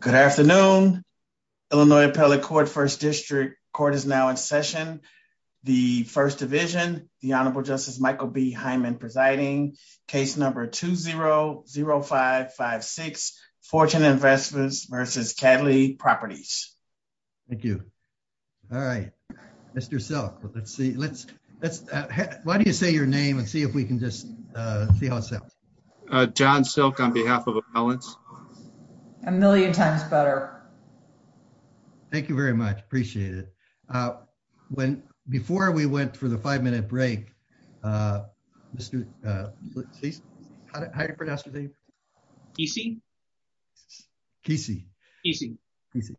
Good afternoon, Illinois Appellate Court, 1st District. Court is now in session. The 1st Division, the Honorable Justice Michael B. Hyman presiding. Case number 2-0-0-5-5-6. Fortune Investments vs. Cadley Properties. Thank you. All right. Mr. Silk, let's see. Why don't you say your name and see if we can just see how it sounds. John Silk on behalf of Appellants. A million times better. Thank you very much. Appreciate it. When, before we went for the five minute break. Mr. Hi, Mr. Dave. Casey. Casey, Casey.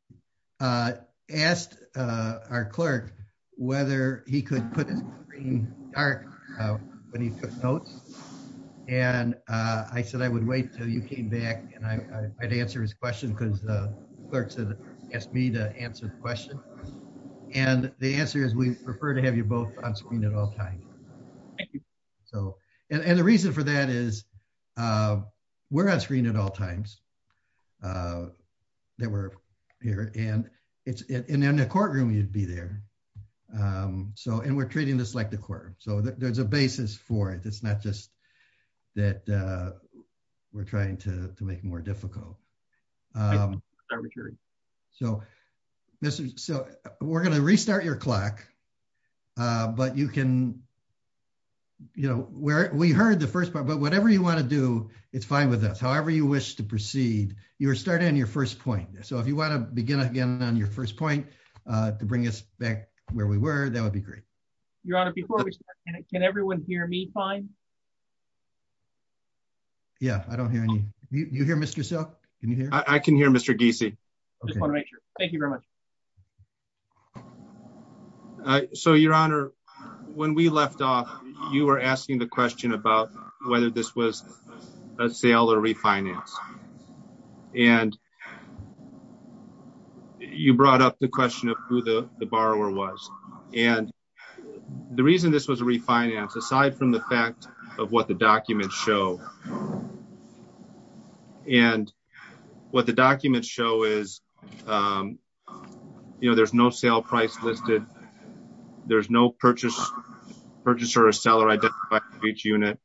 Asked our clerk, whether he could put in our notes. And I said I would wait till you came back and I might answer his question because the clerks asked me to answer the question. And the answer is we prefer to have you both on screen at all times. So, and the reason for that is we're on screen at all times. They were here and it's in the courtroom you'd be there. So and we're treating this like the quarter. So there's a basis for it. It's not just that we're trying to make more difficult. So, Mr. So we're going to restart your clock. But you can, you know, where we heard the first part but whatever you want to do, it's fine with us however you wish to proceed, you're starting on your first point. So if you want to begin again on your first point to bring us back where we were, that would be great. Your Honor before we can everyone hear me fine. Yeah, I don't hear any. You hear Mr. So, I can hear Mr DC. Thank you very much. So Your Honor. When we left off, you were asking the question about whether this was a sale or refinance. And you brought up the question of who the borrower was, and the reason this was refinance aside from the fact of what the documents show. And what the documents show is, you know, there's no sale price listed. There's no purchase, purchase or a seller identify each unit.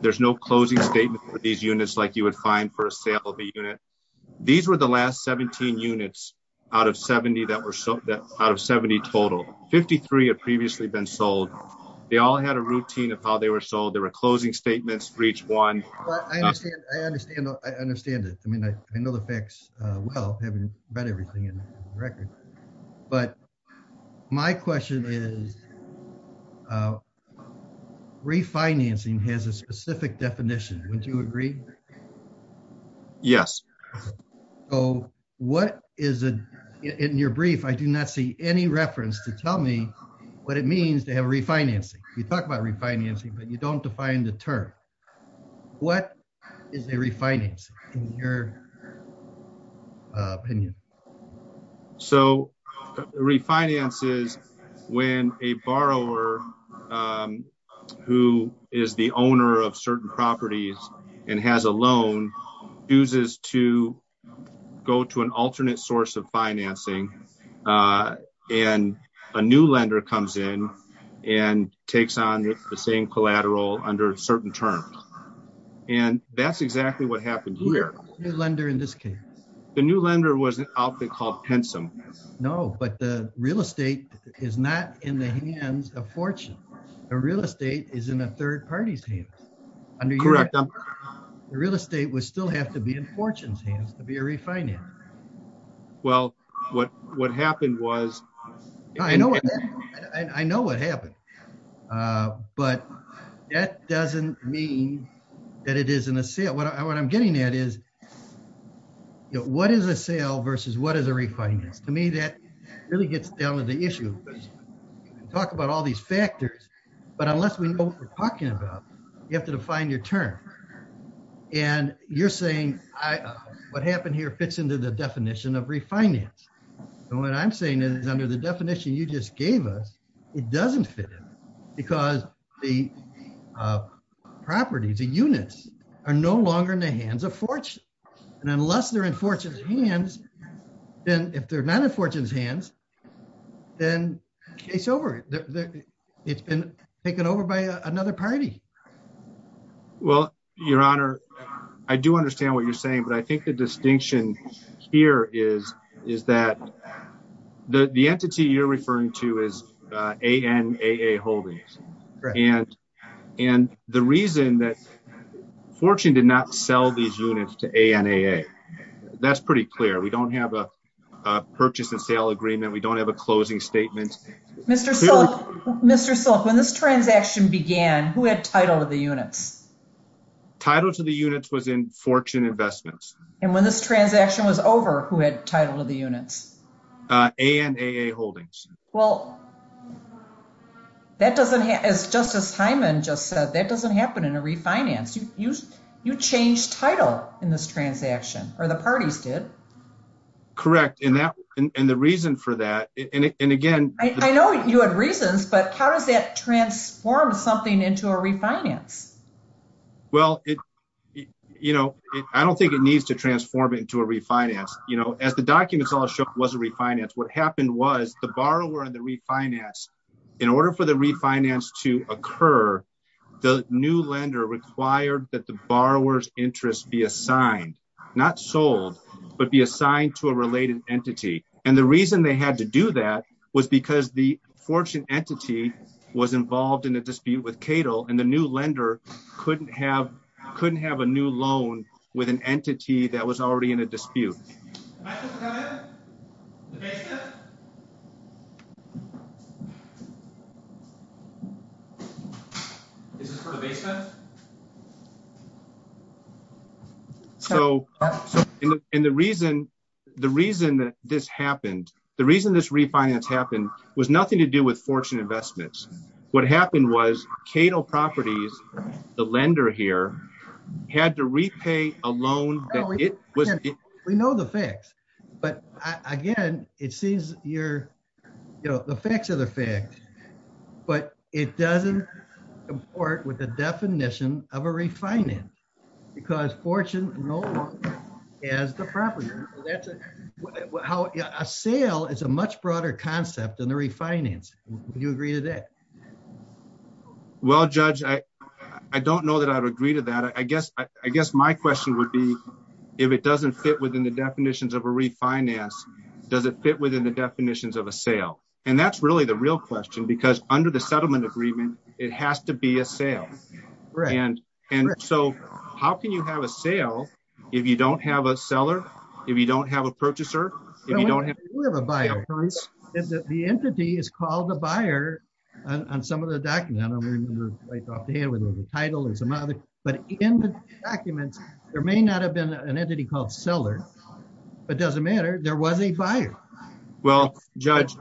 There's no closing statement for these units like you would find for a sale of a unit. These were the last 17 units out of 70 that were so that out of 70 total 53 had previously been sold. They all had a routine of how they were sold there were closing statements for each one. I understand. I understand it. I mean, I know the facts. Well, having read everything in the record. But my question is refinancing has a specific definition. Would you agree. Yes. Oh, what is it in your brief I do not see any reference to tell me what it means to have refinancing, we talked about refinancing but you don't define the term. What is a refinance in your opinion. So, refinances. When a borrower, who is the owner of certain properties, and has a loan uses to go to an alternate source of financing, and a new lender comes in and takes on the same collateral under certain terms. And that's exactly what happened here, the lender in this case, the new lender was an outfit called handsome. No, but the real estate is not in the hands of fortune. A real estate is in a third party's hands. And the real estate was still have to be in fortunes hands to be a refinance. Well, what, what happened was, I know, I know what happened. But that doesn't mean that it isn't a sale what I what I'm getting at is, what is a sale versus what is a refinance to me that really gets down to the issue. Talk about all these factors, but unless we know what we're talking about. You have to define your term. And you're saying, I, what happened here fits into the definition of refinance. And what I'm saying is under the definition you just gave us. It doesn't fit in, because the properties and units are no longer in the hands of fortune. And unless they're in fortunes hands. Then, if they're not in fortunes hands, then case over. It's been taken over by another party. Well, Your Honor. I do understand what you're saying but I think the distinction here is, is that the entity you're referring to is a NAA holdings. And the reason that fortune did not sell these units to a NAA. That's pretty clear we don't have a purchase and sale agreement we don't have a closing statement. Mr. Mr. So, when this transaction began, who had title of the units title to the units was in fortune investments, and when this transaction was over, who had title of the units, a NAA holdings. Well, that doesn't have as Justice Hyman just said that doesn't happen in a refinance you use you change title in this transaction, or the parties did correct in that. And the reason for that, and again, I know you had reasons but how does that transform something into a refinance. Well, it, you know, I don't think it needs to transform into a refinance, you know, as the documents all show was a refinance what happened was the borrower and the refinance. In order for the refinance to occur. The new lender required that the borrowers interest be assigned, not sold, but be assigned to a related entity. And the reason they had to do that was because the fortune entity was involved in a dispute with Cato and the new lender couldn't have couldn't have a new loan with an entity that was already in a dispute. So, and the reason. The reason that this happened. The reason this refinance happened was nothing to do with fortune investments. What happened was Cato properties, the lender here had to repay a loan. We know the facts. But again, it seems, you're, you know, the facts of the fact, but it doesn't work with the definition of a refinance, because fortune. As the property. How a sale is a much broader concept and the refinance, you agree to that. Well, Judge, I don't know that I would agree to that I guess I guess my question would be, if it doesn't fit within the definitions of a refinance, does it fit within the definitions of a sale. And that's really the real question because under the settlement agreement, it has to be a sale. Right. And, and so how can you have a sale. If you don't have a seller. If you don't have a purchaser. If you don't have a buyer. The entity is called the buyer on some of the document title and some other, but in the documents, there may not have been an entity called seller, but doesn't matter there was a buyer. Well, Judge.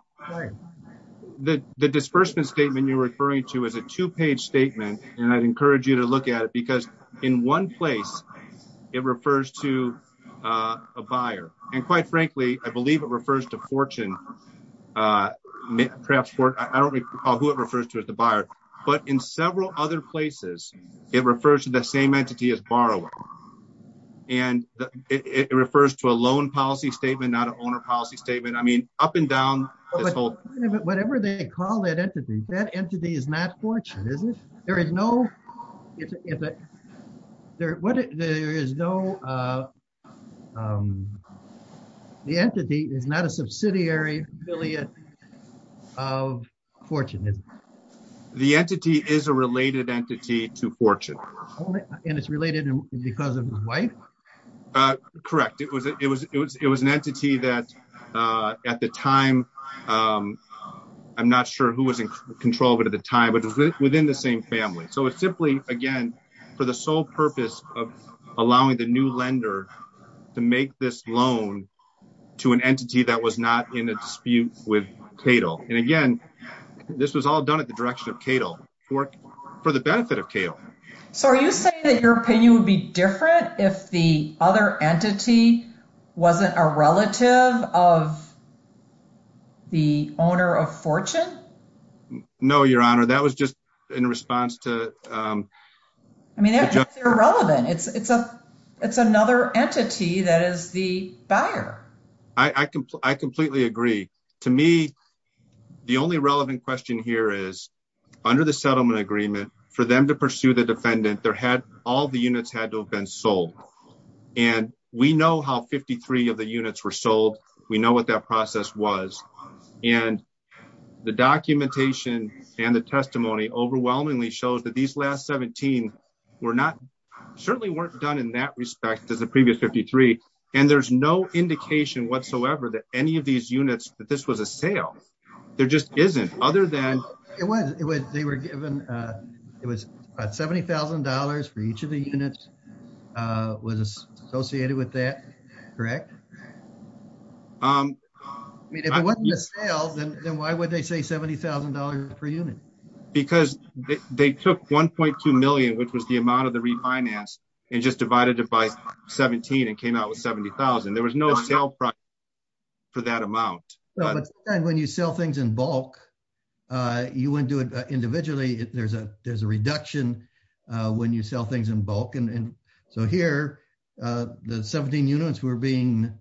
The, the disbursement statement you're referring to as a two page statement, and I'd encourage you to look at it because in one place. It refers to a buyer, and quite frankly, I believe it refers to fortune. Perhaps I don't recall who it refers to as the buyer, but in several other places. It refers to the same entity as borrower. And it refers to a loan policy statement not an owner policy statement I mean, up and down, whatever they call that entity that entity is not fortunate isn't there is no. There is no. The entity is not a subsidiary affiliate of fortunate. The entity is a related entity to fortune, and it's related because of his wife. Correct it was it was it was it was an entity that at the time. I'm not sure who was in control of it at the time, but within the same family so it's simply, again, for the sole purpose of allowing the new lender to make this loan to an entity that was not in a dispute with Cato. And again, this was all done at the direction of Cato work for the benefit of kale. So are you saying that your opinion would be different if the other entity wasn't a relative of the owner of fortune. No, Your Honor, that was just in response to. I mean, irrelevant it's it's a, it's another entity that is the buyer. I completely agree. To me, the only relevant question here is under the settlement agreement for them to pursue the defendant there had all the units had to have been sold. And we know how 53 of the units were sold. We know what that process was. And the documentation and the testimony overwhelmingly shows that these last 17. We're not certainly weren't done in that respect as the previous 53, and there's no indication whatsoever that any of these units, but this was a sale. There just isn't other than it was, they were given. It was $70,000 for each of the units was associated with that. Correct. Um, then why would they say $70,000 per unit, because they took 1.2 million which was the amount of the refinance and just divided it by 17 and came out with 70,000 there was no sale price for that amount. And when you sell things in bulk. You wouldn't do it individually if there's a there's a reduction. When you sell things in bulk and so here. The 17 units were being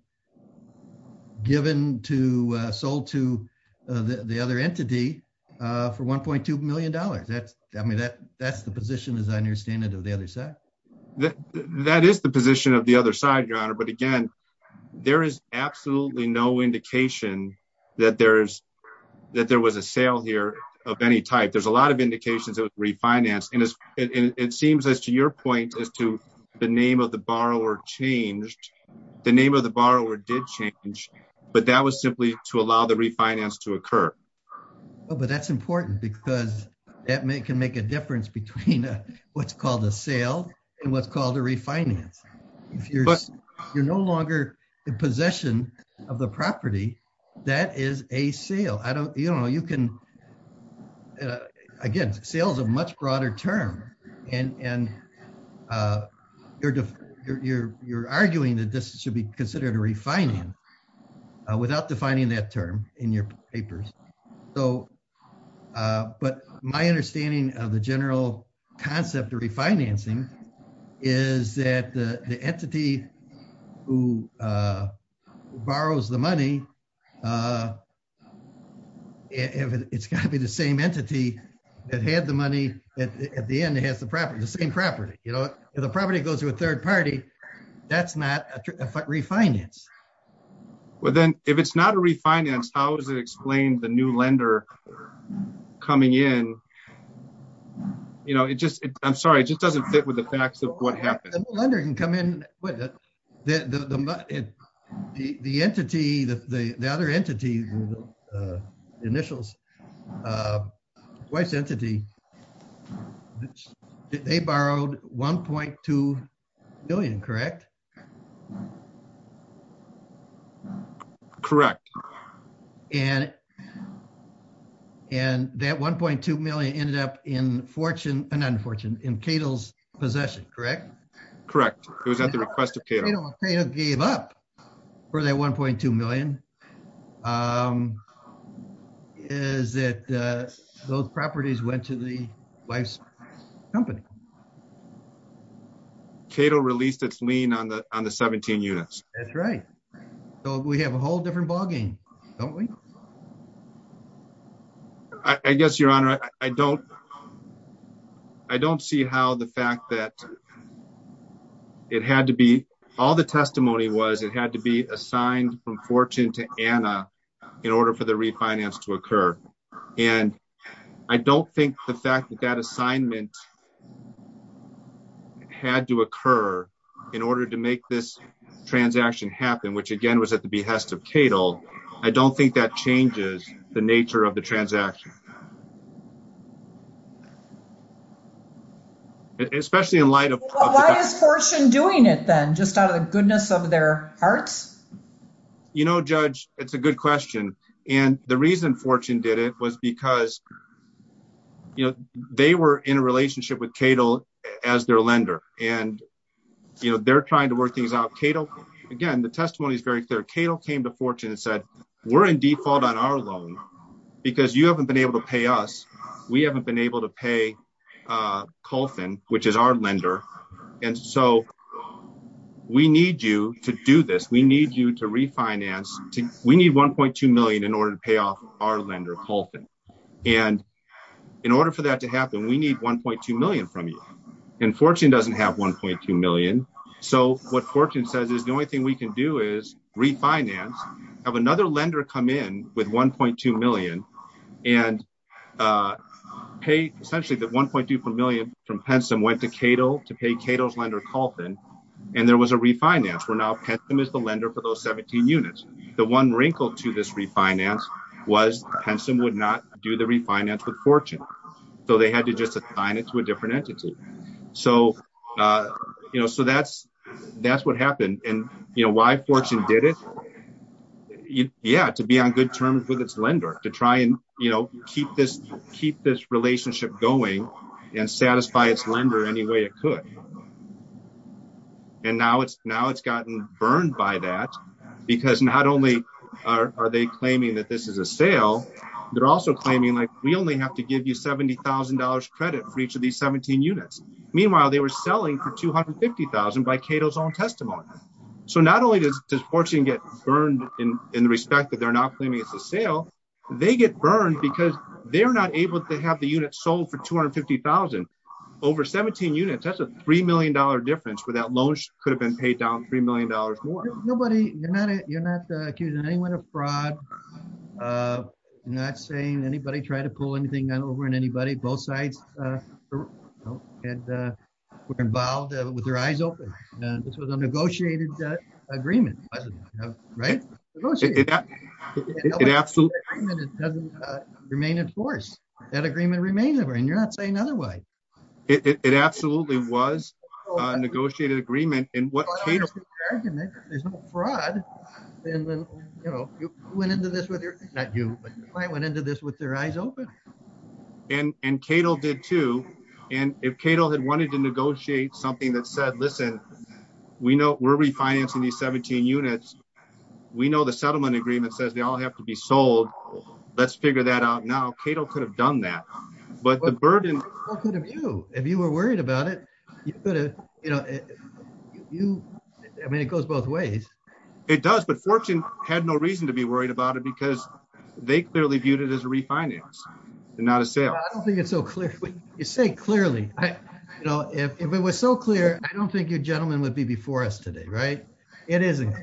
given to sold to the other entity for $1.2 million that's, I mean that that's the position as I understand it of the other side. That is the position of the other side your honor but again, there is absolutely no indication that there's that there was a sale here of any type there's a lot of indications of refinance and it seems as to your point as to the name of the If you're, you're no longer in possession of the property. That is a sale I don't you know you can. Again, sales a much broader term, and, and you're, you're, you're arguing that this should be considered a refining without defining that term in your papers. So, but my understanding of the general concept of refinancing is that the entity who borrows the money. It's got to be the same entity that had the money at the end it has the property the same property, you know, the property goes to a third party. That's not a refinance. Well then, if it's not a refinance, how does it explain the new lender coming in. You know it just, I'm sorry it just doesn't fit with the facts of what happened. The lender can come in with the, the, the, the entity that the other entity initials. Why sensitive. They borrowed 1.2 billion correct. Correct. And. And that 1.2 million ended up in fortune, and unfortunate in Cato's possession correct. Correct. It was at the request of gave up for that 1.2 million is that those properties went to the wife's company. Cato released its lean on the, on the 17 units. That's right. So we have a whole different ballgame. Don't we. I guess Your Honor, I don't. I don't see how the fact that it had to be all the testimony was it had to be assigned from fortune to Anna, in order for the refinance to occur. And I don't think the fact that that assignment had to occur in order to make this transaction happen which again was at the behest of Cato. I don't think that changes the nature of the transaction. Especially in light of doing it then just out of the goodness of their hearts. You know judge, it's a good question. And the reason fortune did it was because, you know, they were in a relationship with Cato as their lender, and, you know, they're trying to work things out Cato. Again, the testimony is very clear Cato came to fortune and said, we're in default on our loan, because you haven't been able to pay us. We haven't been able to pay Colton, which is our lender. And so we need you to do this we need you to refinance to, we need 1.2 million in order to pay off our lender Colton. And in order for that to happen we need 1.2 million from you. And fortune doesn't have 1.2 million. So, what fortune says is the only thing we can do is refinance have another lender come in with 1.2 million and pay, essentially that 1.2 million from Pensum went to Cato to pay Cato's lender Colton. And there was a refinance we're now pensum is the lender for those 17 units. The one wrinkle to this refinance was Pensum would not do the refinance with fortune. So they had to just assign it to a different entity. So, you know, so that's, that's what happened. And, you know, why fortune did it. Yeah, to be on good terms with its lender to try and, you know, keep this, keep this relationship going and satisfy its lender any way it could. And now it's now it's gotten burned by that, because not only are they claiming that this is a sale. They're also claiming like we only have to give you $70,000 credit for each of these 17 units. Meanwhile, they were selling for 250,000 by Cato's own testimony. So not only does this fortune get burned in the respect that they're not claiming it's a sale. They get burned because they're not able to have the unit sold for 250,000 over 17 units that's a $3 million difference without loans could have been paid down $3 million more. Nobody, you're not, you're not accusing anyone of fraud. Not saying anybody try to pull anything on over and anybody both sides. And we're involved with your eyes open. This was a negotiated agreement. Right. It absolutely doesn't remain in force that agreement remains over and you're not saying otherwise. It absolutely was negotiated agreement in what fraud. And then, you know, went into this with your that you went into this with their eyes open. And, and Cato did too. And if Cato had wanted to negotiate something that said listen, we know we're refinancing the 17 units. We know the settlement agreement says they all have to be sold. Let's figure that out now Cato could have done that. But the burden of you, if you were worried about it, you could have, you know, you, I mean it goes both ways. It does but fortune had no reason to be worried about it because they clearly viewed it as a refinance. It's not a sale. I don't think it's so clear, you say clearly, you know, if it was so clear, I don't think your gentleman would be before us today right. It isn't.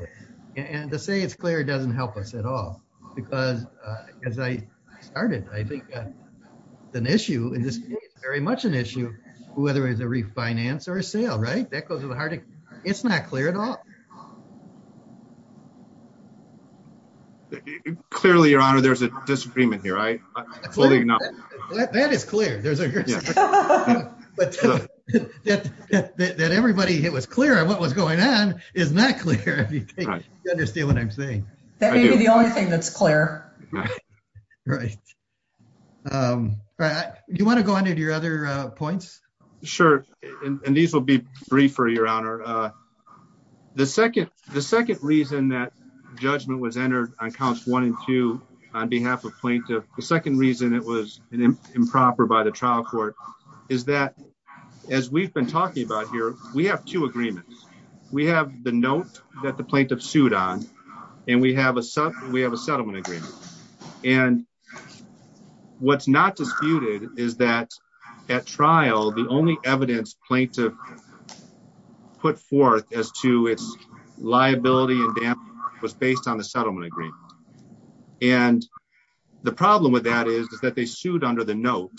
And to say it's clear doesn't help us at all. Because, as I started, I think that an issue in this very much an issue, whether it's a refinance or a sale right that goes to the heart. It's not clear at all. Clearly your honor there's a disagreement here I fully know that is clear. That everybody it was clear what was going on is not clear if you understand what I'm saying. That may be the only thing that's clear. Right. Right. You want to go into your other points. Sure. And these will be free for your honor. The second, the second reason that judgment was entered on counts one and two, on behalf of plaintiff. The second reason it was improper by the trial court is that, as we've been talking about here, we have two agreements. We have the note that the plaintiff sued on. And we have a sub, we have a settlement agreement. And what's not disputed is that at trial, the only evidence plaintiff put forth as to its liability and was based on the settlement agreement. And the problem with that is that they sued under the note,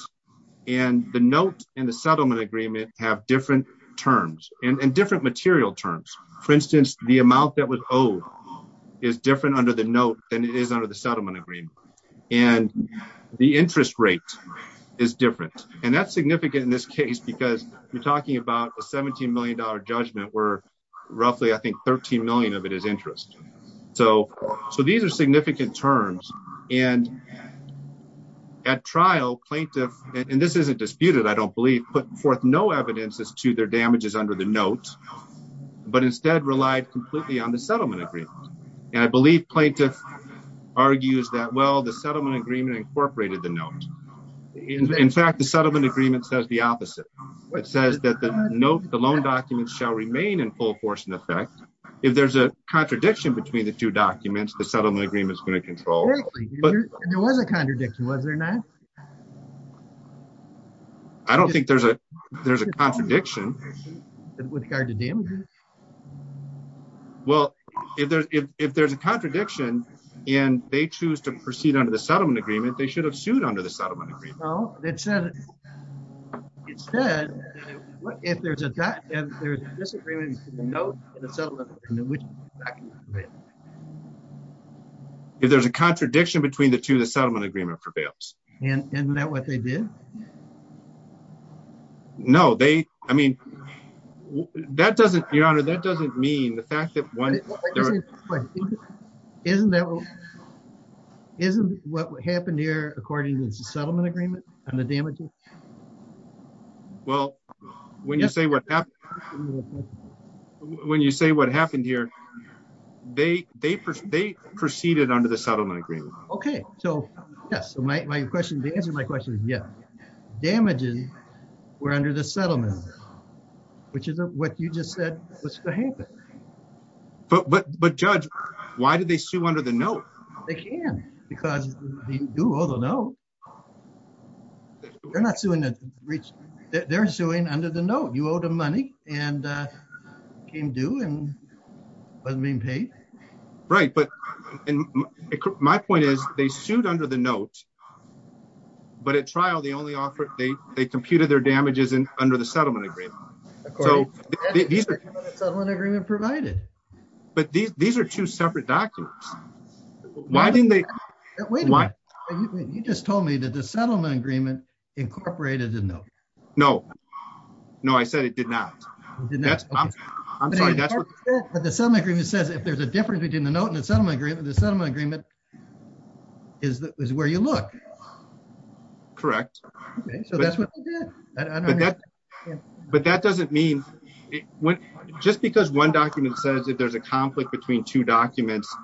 and the note in the settlement agreement have different terms and different material terms. For instance, the amount that was old is different under the note than it is under the settlement agreement. And the interest rate is different. And that's significant in this case because you're talking about a $17 million judgment were roughly I think 13 million of it is interest. So, so these are significant terms, and at trial plaintiff, and this isn't disputed I don't believe put forth no evidence as to their damages under the note, but instead relied completely on the settlement agreement. And I believe plaintiff argues that well the settlement agreement incorporated the note. In fact the settlement agreement says the opposite. It says that the note the loan documents shall remain in full force in effect. If there's a contradiction between the two documents the settlement agreement is going to control. But there was a contradiction was there not. I don't think there's a, there's a contradiction. With regard to damage. Well, if there's, if there's a contradiction, and they choose to proceed under the settlement agreement they should have sued under the settlement. It said, it said, if there's a disagreement. If there's a contradiction between the two the settlement agreement prevails, and that what they did. No, they, I mean, that doesn't your honor that doesn't mean the fact that one isn't that isn't what happened here, according to the settlement agreement, and the damage. Well, when you say what, when you say what happened here. They, they, they proceeded under the settlement agreement. Okay. So, yes, my question to answer my question. Yeah. Damages were under the settlement, which is what you just said, what's going to happen. But, but, but judge. Why did they sue under the note, they can, because they do although no. They're not doing that. They're doing under the note you owe the money, and can do and wasn't being paid. Right, but my point is, they sued under the note. But at trial the only offer, they, they computed their damages and under the settlement agreement. So, these are the agreement provided. But these, these are two separate documents. Why didn't they. You just told me that the settlement agreement incorporated didn't know. No. No, I said it did not. I'm sorry. The settlement agreement says if there's a difference between the note and the settlement agreement the settlement agreement is that is where you look. Correct. But that doesn't mean just because one document says that there's a conflict between two documents.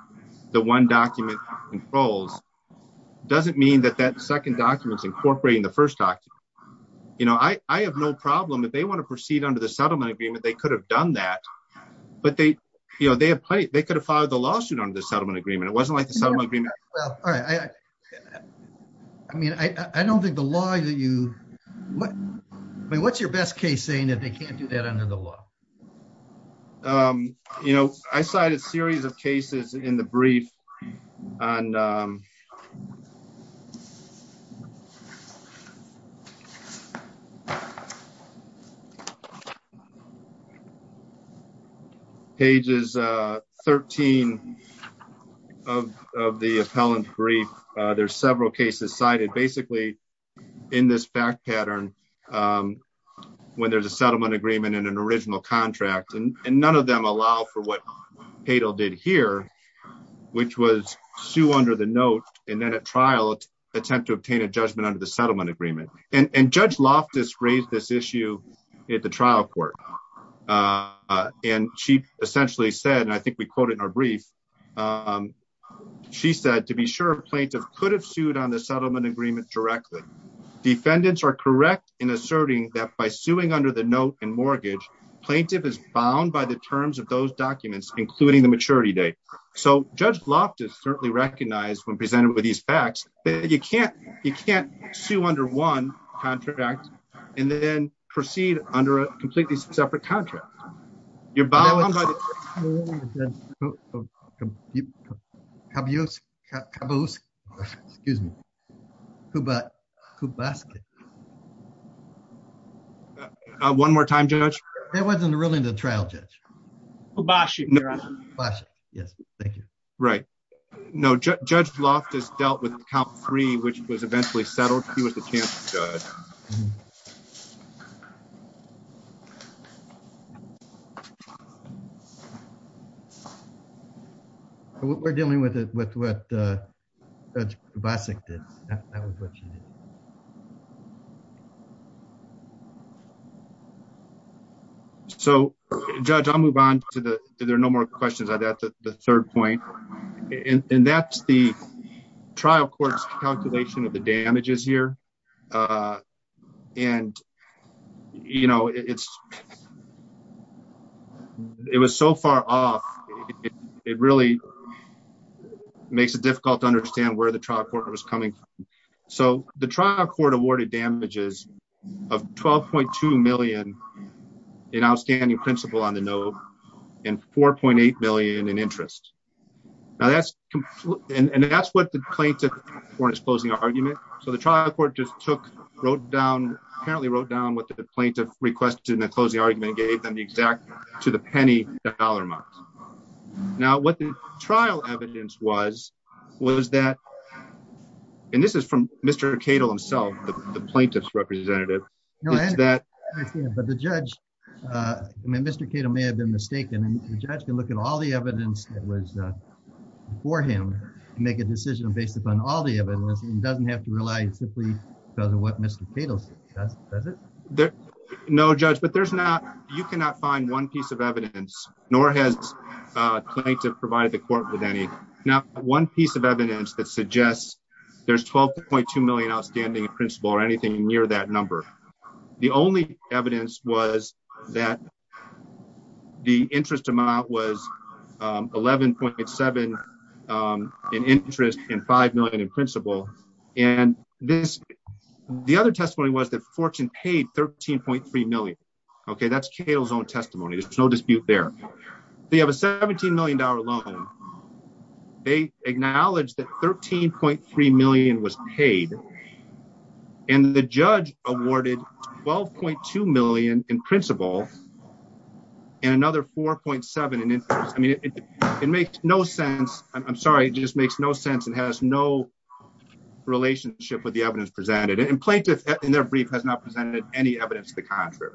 The one document controls doesn't mean that that second documents incorporating the first talk. You know, I have no problem if they want to proceed under the settlement agreement, they could have done that. But they, you know, they have played, they could have followed the lawsuit under the settlement agreement it wasn't like the settlement agreement. All right. I mean, I don't think the law you. What's your best case saying that they can't do that under the law. You know, I cited series of cases in the brief. And. Okay. Pages 13 of the appellant brief. There's several cases cited basically in this back pattern. When there's a settlement agreement and an original contract and none of them allow for what paid I'll did here, which was Sue under the note, and then at trial attempt to obtain a judgment under the settlement agreement and judge loft is raised this issue at the trial court. And she essentially said and I think we quoted her brief. She said to be sure plaintiff could have sued on the settlement agreement directly defendants are correct in asserting that by suing under the note and mortgage plaintiff is bound by the terms of those documents, including the maturity date. So, Judge loft is certainly recognized when presented with these facts that you can't, you can't sue under one contract, and then proceed under a completely separate contract. You're bound by excuse me. Who but who basket. One more time judge. It wasn't really the trial judge. Yes, thank you. Right. No judge loft is dealt with count three which was eventually settled, he was the chance. We're dealing with it with what basic did. So, judge I'll move on to the, there are no more questions I got the third point. And that's the trial courts calculation of the damages here. And, you know, it's. It was so far off. It really makes it difficult to understand where the trial court was coming. So, the trial court awarded damages of 12.2 million in outstanding principal on the note, and 4.8 million in interest. And that's what the plaintiff for his closing argument. So the trial court just took wrote down apparently wrote down what the plaintiff requested and the closing argument gave them the exact to the penny dollar amount. Now what the trial evidence was, was that. And this is from Mr Cato himself, the plaintiffs representative. But the judge. Mr Cato may have been mistaken and the judge can look at all the evidence that was for him to make a decision based upon all the evidence and doesn't have to rely on simply because of what Mr. There. No judge but there's not, you cannot find one piece of evidence, nor has to provide the court with any. Now, one piece of evidence that suggests there's 12.2 million outstanding principal or anything near that number. The only evidence was that the interest amount was 11.7 in interest in 5 million in principle. And this. The other testimony was that fortune paid 13.3 million. Okay, that's Cato's own testimony there's no dispute there. They have a $17 million loan. They acknowledge that 13.3 million was paid. And the judge awarded 12.2 million in principle. And another 4.7 and I mean, it makes no sense, I'm sorry just makes no sense and has no relationship with the evidence presented and plaintiff in their brief has not presented any evidence to the contrary.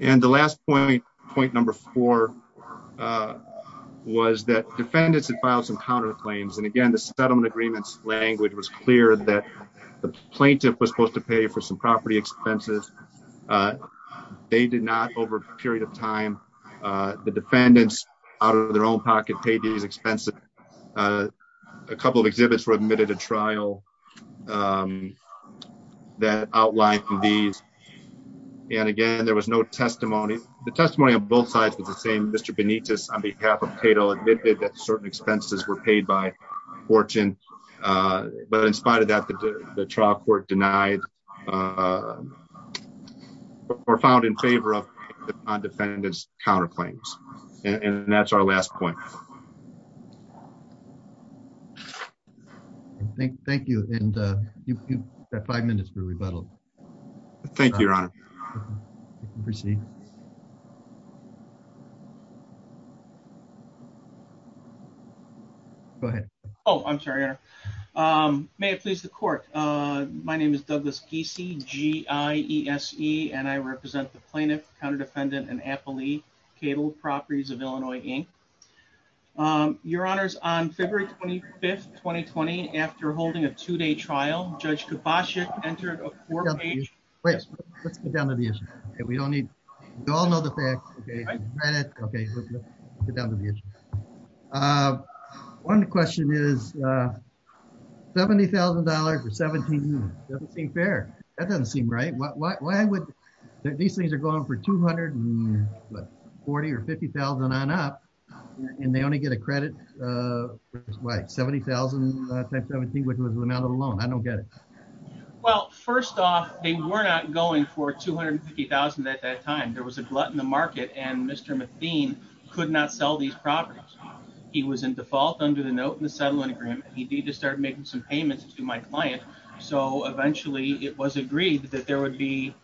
And the last point, point number four was that defendants and files and counterclaims and again the settlement agreements language was clear that the plaintiff was supposed to pay for some property expenses. They did not over a period of time. The defendants, out of their own pocket pages expensive. A couple of exhibits were admitted to trial that outline these. And again, there was no testimony, the testimony on both sides was the same Mr Benitez on behalf of Cato admitted that certain expenses were paid by fortune. But in spite of that the trial court denied or found in favor of the defendants counterclaims, and that's our last point. Thank, thank you. And you have five minutes for rebuttal. Thank you. Proceed. Go ahead. Oh, I'm sorry. May it please the court. My name is Douglas DCG is he and I represent the plaintiff counter defendant and Appley cable properties of Illinois, Inc. Your Honors on February 25 2020 after holding a two day trial, Judge kabashi entered a four page. Let's get down to the issue that we don't need to all know the facts. Okay. One question is $70,000 for 17 fair. That doesn't seem right what why would these things are going for 240 or 50,000 on up. And they only get a credit. Like 70,000 times 17 which was the amount of alone I don't get it. Well, first off, they were not going for 250,000 at that time there was a glut in the market and Mr McBean could not sell these properties. He was in default under the note in the settlement agreement, he did just start making some payments to my client. So eventually it was agreed that there would be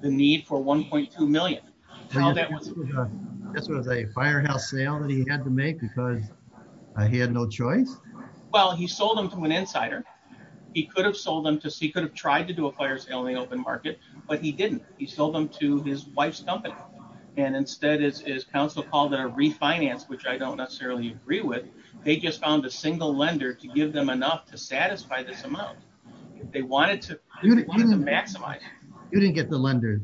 the need for 1.2 million. This was a firehouse sale that he had to make because he had no choice. Well he sold them to an insider. He could have sold them to see could have tried to do a players LA open market, but he didn't, he sold them to his wife's company. And instead is counsel called a refinance which I don't necessarily agree with. They just found a single lender to give them enough to satisfy this amount. They wanted to maximize, you didn't get the lender.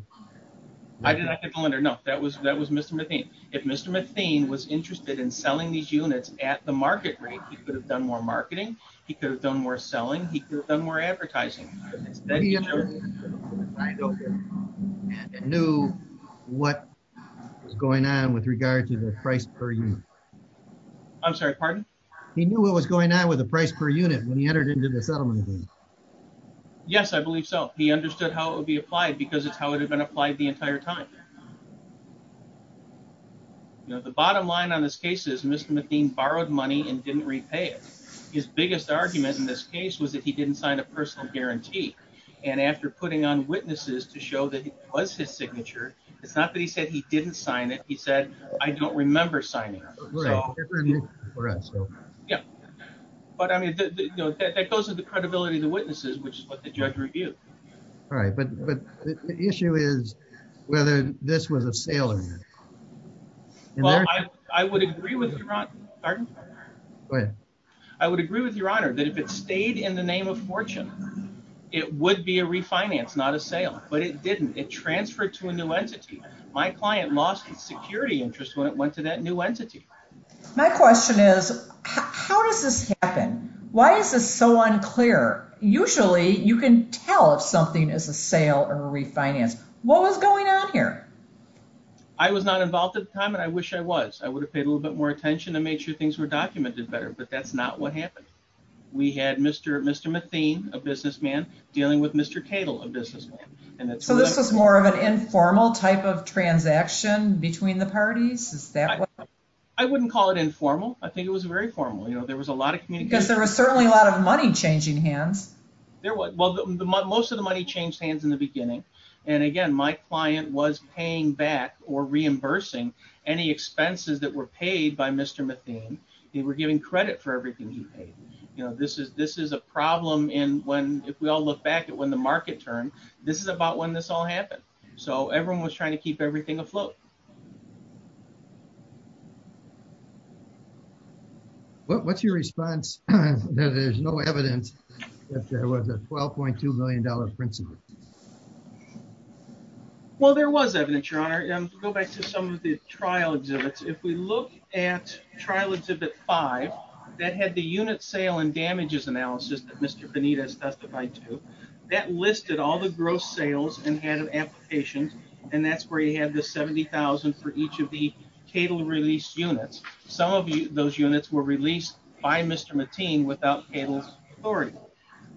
No, that was that was Mr McBean, if Mr McBean was interested in selling these units at the market rate, he could have done more marketing, he could have done more selling, he could have done more advertising. knew what was going on with regard to the price per year. I'm sorry, pardon me. He knew what was going on with the price per unit when he entered into the settlement. Yes, I believe so. He understood how it would be applied because it's how it had been applied the entire time. The bottom line on this case is Mr McBean borrowed money and didn't repay it. His biggest argument in this case was that he didn't sign a personal guarantee. And after putting on witnesses to show that it was his signature. It's not that he said he didn't sign it he said, I don't remember signing. Yeah. But I mean, that goes to the credibility of the witnesses which is what the judge reviewed. All right, but, but the issue is whether this was a sale. I would agree with you. I would agree with your honor that if it stayed in the name of fortune. It would be a refinance not a sale, but it didn't it transferred to a new entity, my client lost security interest when it went to that new entity. My question is, how does this happen. Why is this so unclear, usually you can tell if something is a sale or refinance, what was going on here. I was not involved at the time and I wish I was, I would have paid a little bit more attention to make sure things were documented better but that's not what happened. We had Mr. Mr McBean, a businessman, dealing with Mr Cable of business. And so this is more of an informal type of transaction between the parties. I wouldn't call it informal, I think it was very formal you know there was a lot of community because there was certainly a lot of money changing hands. Most of the money changed hands in the beginning. And again, my client was paying back or reimbursing any expenses that were paid by Mr McBean, they were giving credit for everything he paid. You know this is this is a problem in when, if we all look back at when the market turn. This is about when this all happened. So everyone was trying to keep everything afloat. What's your response. There's no evidence that there was a $12.2 million principal. Well there was evidence your honor and go back to some of the trial exhibits if we look at trial exhibit five that had the unit sale and damages analysis that Mr Benitez testified to that listed all the gross sales and had an application. And that's where you have the 70,000 for each of the cable release units. Some of those units were released by Mr McBean without cable authority.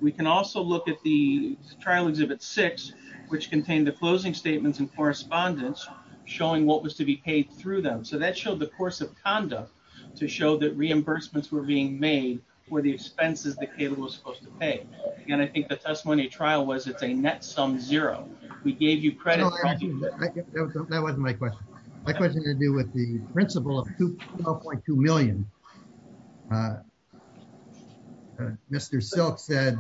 We can also look at the trial exhibit six, which contained the closing statements and correspondence, showing what was to be paid through them so that showed the course of conduct to show that reimbursements were being made for the expenses the cable was supposed to pay. And I think the testimony trial was it's a net sum zero, we gave you credit. That was my question. My question to do with the principle of 2.2 million. Mr self said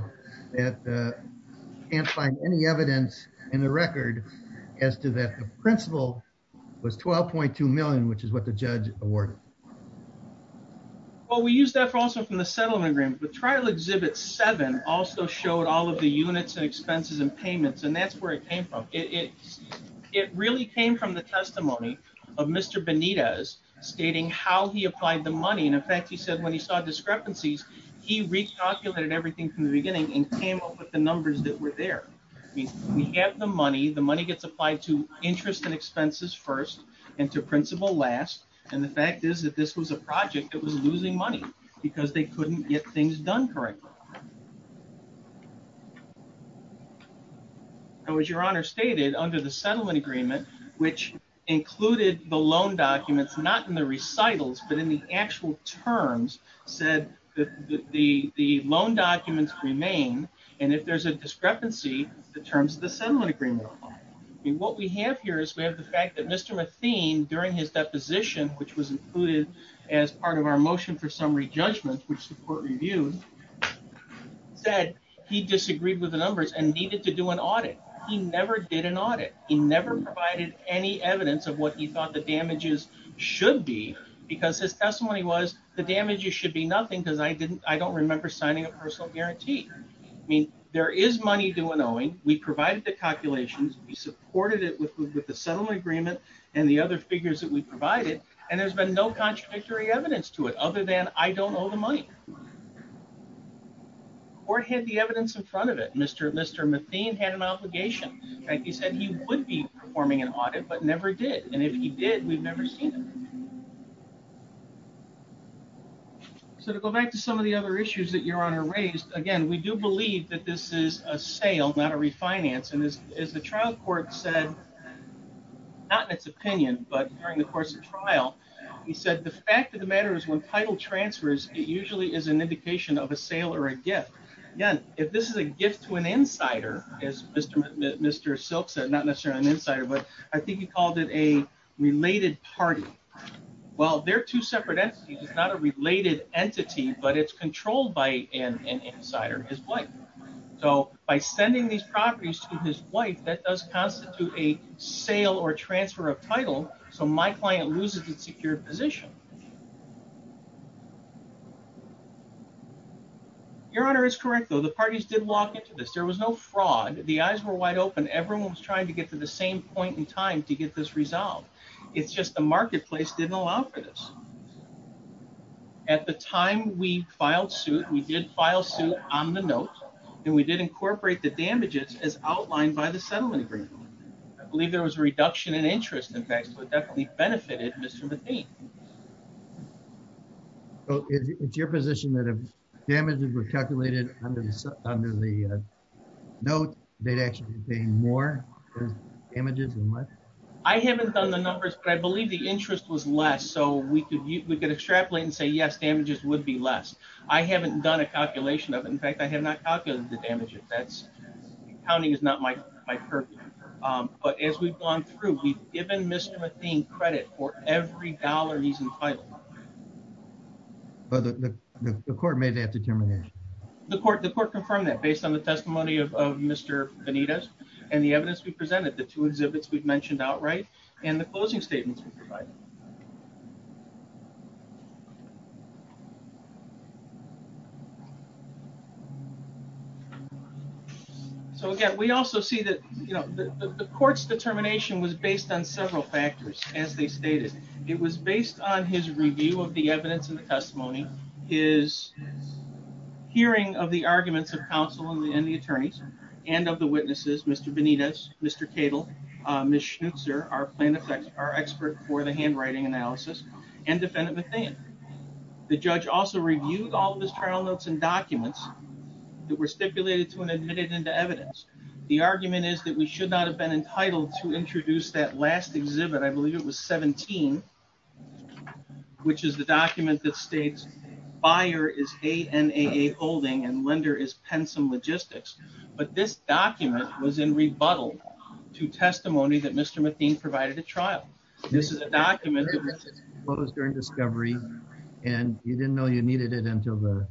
that can't find any evidence in the record as to that principle was 12.2 million which is what the judge awarded. Well we use that for also from the settlement agreement but trial exhibit seven also showed all of the units and expenses and payments and that's where it came from it. It really came from the testimony of Mr Benitez stating how he applied the money and in fact he said when he saw discrepancies. He reached out to him and everything from the beginning and came up with the numbers that were there. We have the money the money gets applied to interest and expenses first into principle last. And the fact is that this was a project that was losing money, because they couldn't get things done correctly. I was your honor stated under the settlement agreement, which included the loan documents not in the recitals, but in the actual terms said that the, the loan documents remain. And if there's a discrepancy, the terms of the settlement agreement. What we have here is we have the fact that Mr Mathene during his deposition, which was included as part of our motion for summary judgment, which support review said he disagreed with the numbers and needed to do an audit. He never did an audit, he never provided any evidence of what he thought the damages should be, because his testimony was the damages should be nothing because I didn't, I don't remember signing a personal guarantee. I mean, there is money doing knowing we provided the calculations we supported it with with the settlement agreement, and the other figures that we provided, and there's been no contradictory evidence to it other than I don't know the money or had the evidence in front of it, Mr. Mr Mathene had an obligation. He said he would be performing an audit but never did. And if he did, we've never seen. So to go back to some of the other issues that your honor raised again we do believe that this is a sale not a refinance and is, is the trial court said, not in its opinion but during the course of trial. He said the fact of the matter is when title transfers, it usually is an indication of a sale or a gift. Again, if this is a gift to an insider is Mr. Mr silks and not necessarily an insider but I think he called it a related party. Well, they're two separate entities is not a related entity, but it's controlled by an insider his wife. So, by sending these properties to his wife that does constitute a sale or transfer of title. So my client loses its secure position. Your Honor is correct though the parties did walk into this there was no fraud, the eyes were wide open everyone's trying to get to the same point in time to get this resolved. It's just the marketplace didn't allow for this. At the time we filed suit we did file suit on the note, and we did incorporate the damages as outlined by the settlement agreement. I believe there was a reduction in interest in fact so it definitely benefited Mr. It's your position that have damages were calculated under the note, they'd actually be more images and what I haven't done the numbers but I believe the interest was less so we could we could extrapolate and say yes damages would be less. I haven't done a calculation of in fact I have not calculated the damages that's counting is not my, my perfect. But as we've gone through we've given Mr theme credit for every dollar he's entitled. But the court made that determination. The court the court confirm that based on the testimony of Mr. Anita's, and the evidence we presented the two exhibits we've mentioned outright, and the closing statements. So again, we also see that, you know, the courts determination was based on several factors, as they stated, it was based on his review of the evidence in the testimony is hearing of the arguments of counsel and the attorneys, and of the witnesses Mr Benita's, Mr cable mission sir our plan effects are expert for the handwriting analysis and defendant. The judge also reviewed all of his trial notes and documents that were stipulated to an admitted into evidence. The argument is that we should not have been entitled to introduce that last exhibit I believe it was 17, which is the document that states buyer is a holding and lender is pen some logistics, but this document was in rebuttal to testimony that Mr McDean provided a trial. This is a document that was during discovery, and you didn't know you needed it until the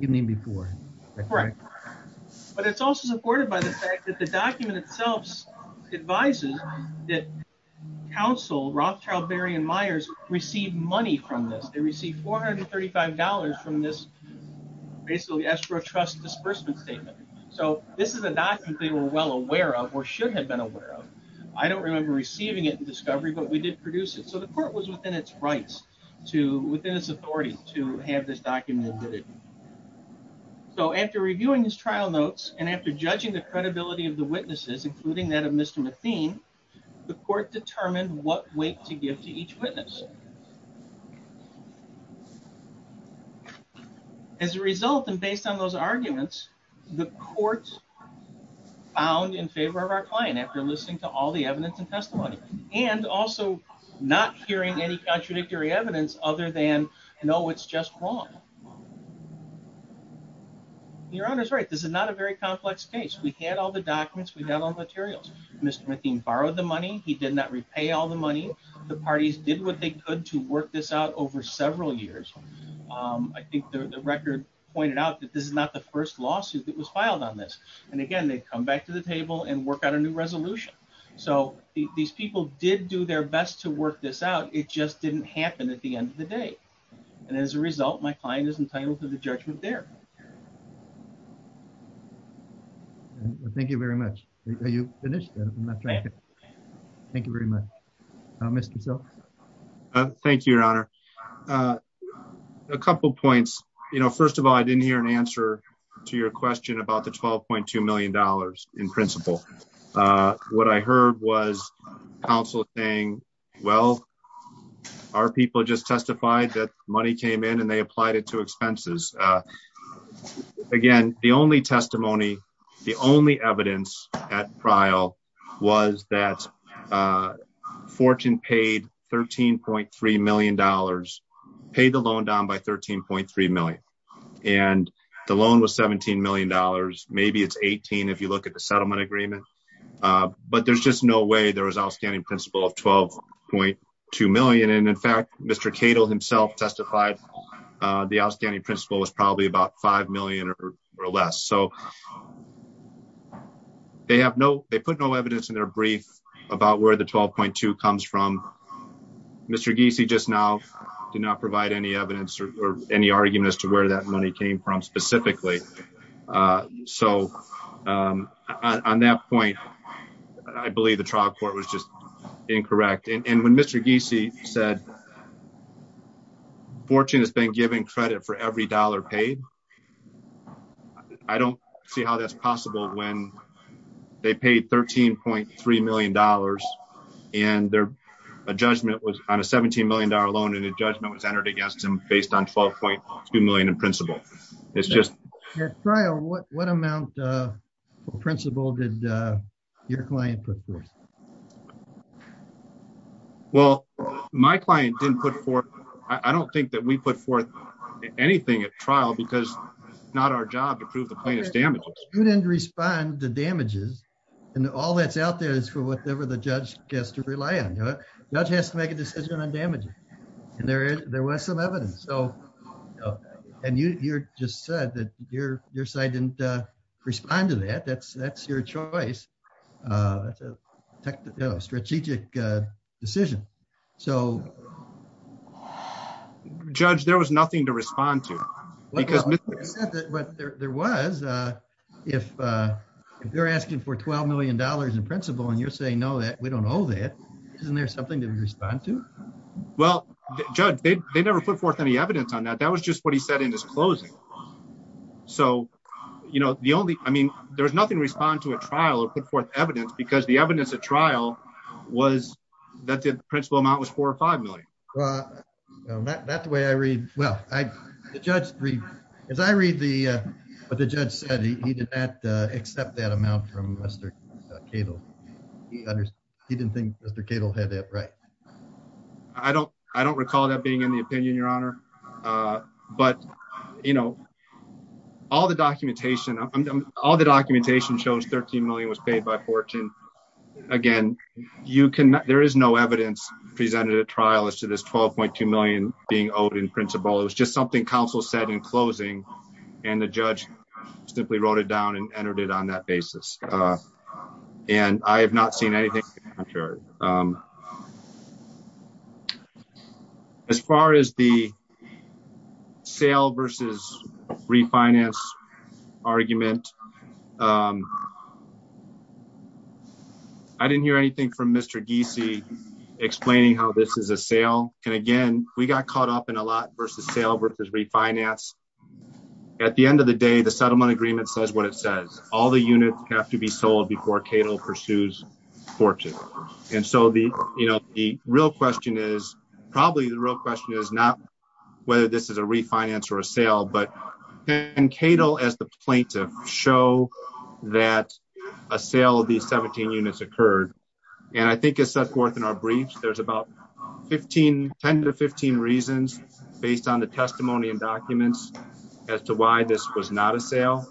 evening before. But it's also supported by the fact that the document itself advises that counsel Rothchild Barry and Myers received money from this they received $435 from this. Basically escrow trust disbursement statement. So, this is a document they were well aware of or should have been aware of. I don't remember receiving it and discovery but we did produce it so the court was within its rights to within its authority to have this document. So after reviewing his trial notes, and after judging the credibility of the witnesses, including that of Mr McBean, the court determined what weight to give to each witness. As a result, and based on those arguments, the court found in favor of our client after listening to all the evidence and testimony, and also not hearing any contradictory evidence other than no it's just wrong. Your Honor's right this is not a very complex case we had all the documents we have all the materials, Mr McBean borrowed the money, he did not repay all the money, the parties did what they could to work this out over several years. I think the record pointed out that this is not the first lawsuit that was filed on this. And again, they come back to the table and work out a new resolution. So, these people did do their best to work this out, it just didn't happen at the end of the day. And as a result, my client is entitled to the judgment there. Thank you very much. Thank you very much. Mr. Thank you, Your Honor. A couple points, you know, first of all I didn't hear an answer to your question about the $12.2 million in principle. What I heard was counsel saying, well, our people just testified that money came in and they applied it to expenses. Again, the only testimony. The only evidence at trial was that fortune paid $13.3 million paid the loan down by 13.3 million. And the loan was $17 million, maybe it's 18 if you look at the settlement agreement. But there's just no way there was outstanding principle of $12.2 million. And in fact, Mr. Cato himself testified the outstanding principle was probably about $5 million or less. So, they have no, they put no evidence in their brief about where the $12.2 comes from. Mr. Giese just now did not provide any evidence or any argument as to where that money came from specifically. So, on that point, I believe the trial court was just incorrect. And when Mr. Giese said fortune has been given credit for every dollar paid. I don't see how that's possible when they paid $13.3 million. And a judgment was on a $17 million loan and a judgment was entered against him based on $12.2 million in principle. It's just trial. What amount of principle did your client put forth? Well, my client didn't put forth. I don't think that we put forth anything at trial because it's not our job to prove the plaintiff's damages. You didn't respond to damages. And all that's out there is for whatever the judge has to rely on. The judge has to make a decision on damages. And there was some evidence. And you just said that your side didn't respond to that. That's your choice. That's a strategic decision. Judge, there was nothing to respond to. There was. If you're asking for $12 million in principle and you're saying no, that we don't know that. Isn't there something to respond to? Well, judge, they never put forth any evidence on that. That was just what he said in his closing. So, you know, the only I mean, there's nothing respond to a trial or put forth evidence because the evidence at trial was that the principal amount was four or 5 million. That's the way I read. Well, I just read, as I read the, but the judge said he did not accept that amount from Mr. Cable. He didn't think Mr Cable had it right. I don't, I don't recall that being in the opinion, Your Honor. But, you know, all the documentation, all the documentation shows 13 million was paid by fortune. Again, you can, there is no evidence presented a trial as to this 12.2 million being owed in principle, it was just something council said in closing, and the judge simply wrote it down and entered it on that basis. And I have not seen anything. Sure. As far as the sale versus refinance argument. I didn't hear anything from Mr DC explaining how this is a sale, and again, we got caught up in a lot versus sale versus refinance. At the end of the day, the settlement agreement says what it says, all the units have to be sold before Cato pursues fortune. And so the, you know, the real question is probably the real question is not whether this is a refinance or a sale but and Cato as the plaintiff show that a sale of the 17 units occurred. And I think it's set forth in our briefs, there's about 1510 to 15 reasons, based on the testimony and documents as to why this was not a sale.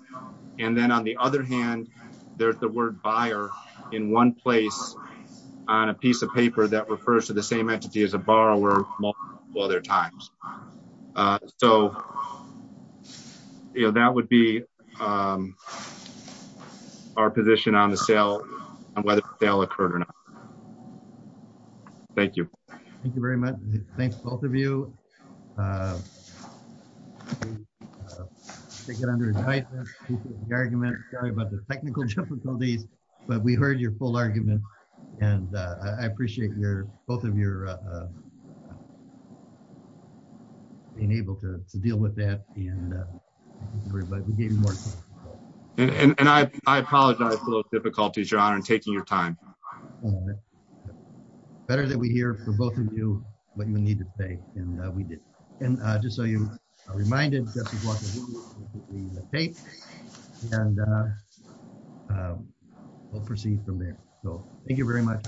And then on the other hand, there's the word buyer in one place on a piece of paper that refers to the same entity as a borrower, while their times. So, you know, that would be our position on the sale, and whether they'll occur or not. Thank you. Thank you very much. Thanks, both of you. They get under the argument about the technical difficulties, but we heard your full argument. And I appreciate your both of your being able to deal with that. And I apologize for the difficulties you're on and taking your time. Better that we hear from both of you, what you need to say, and we did. And just so you're reminded. And we'll proceed from there. So, thank you very much.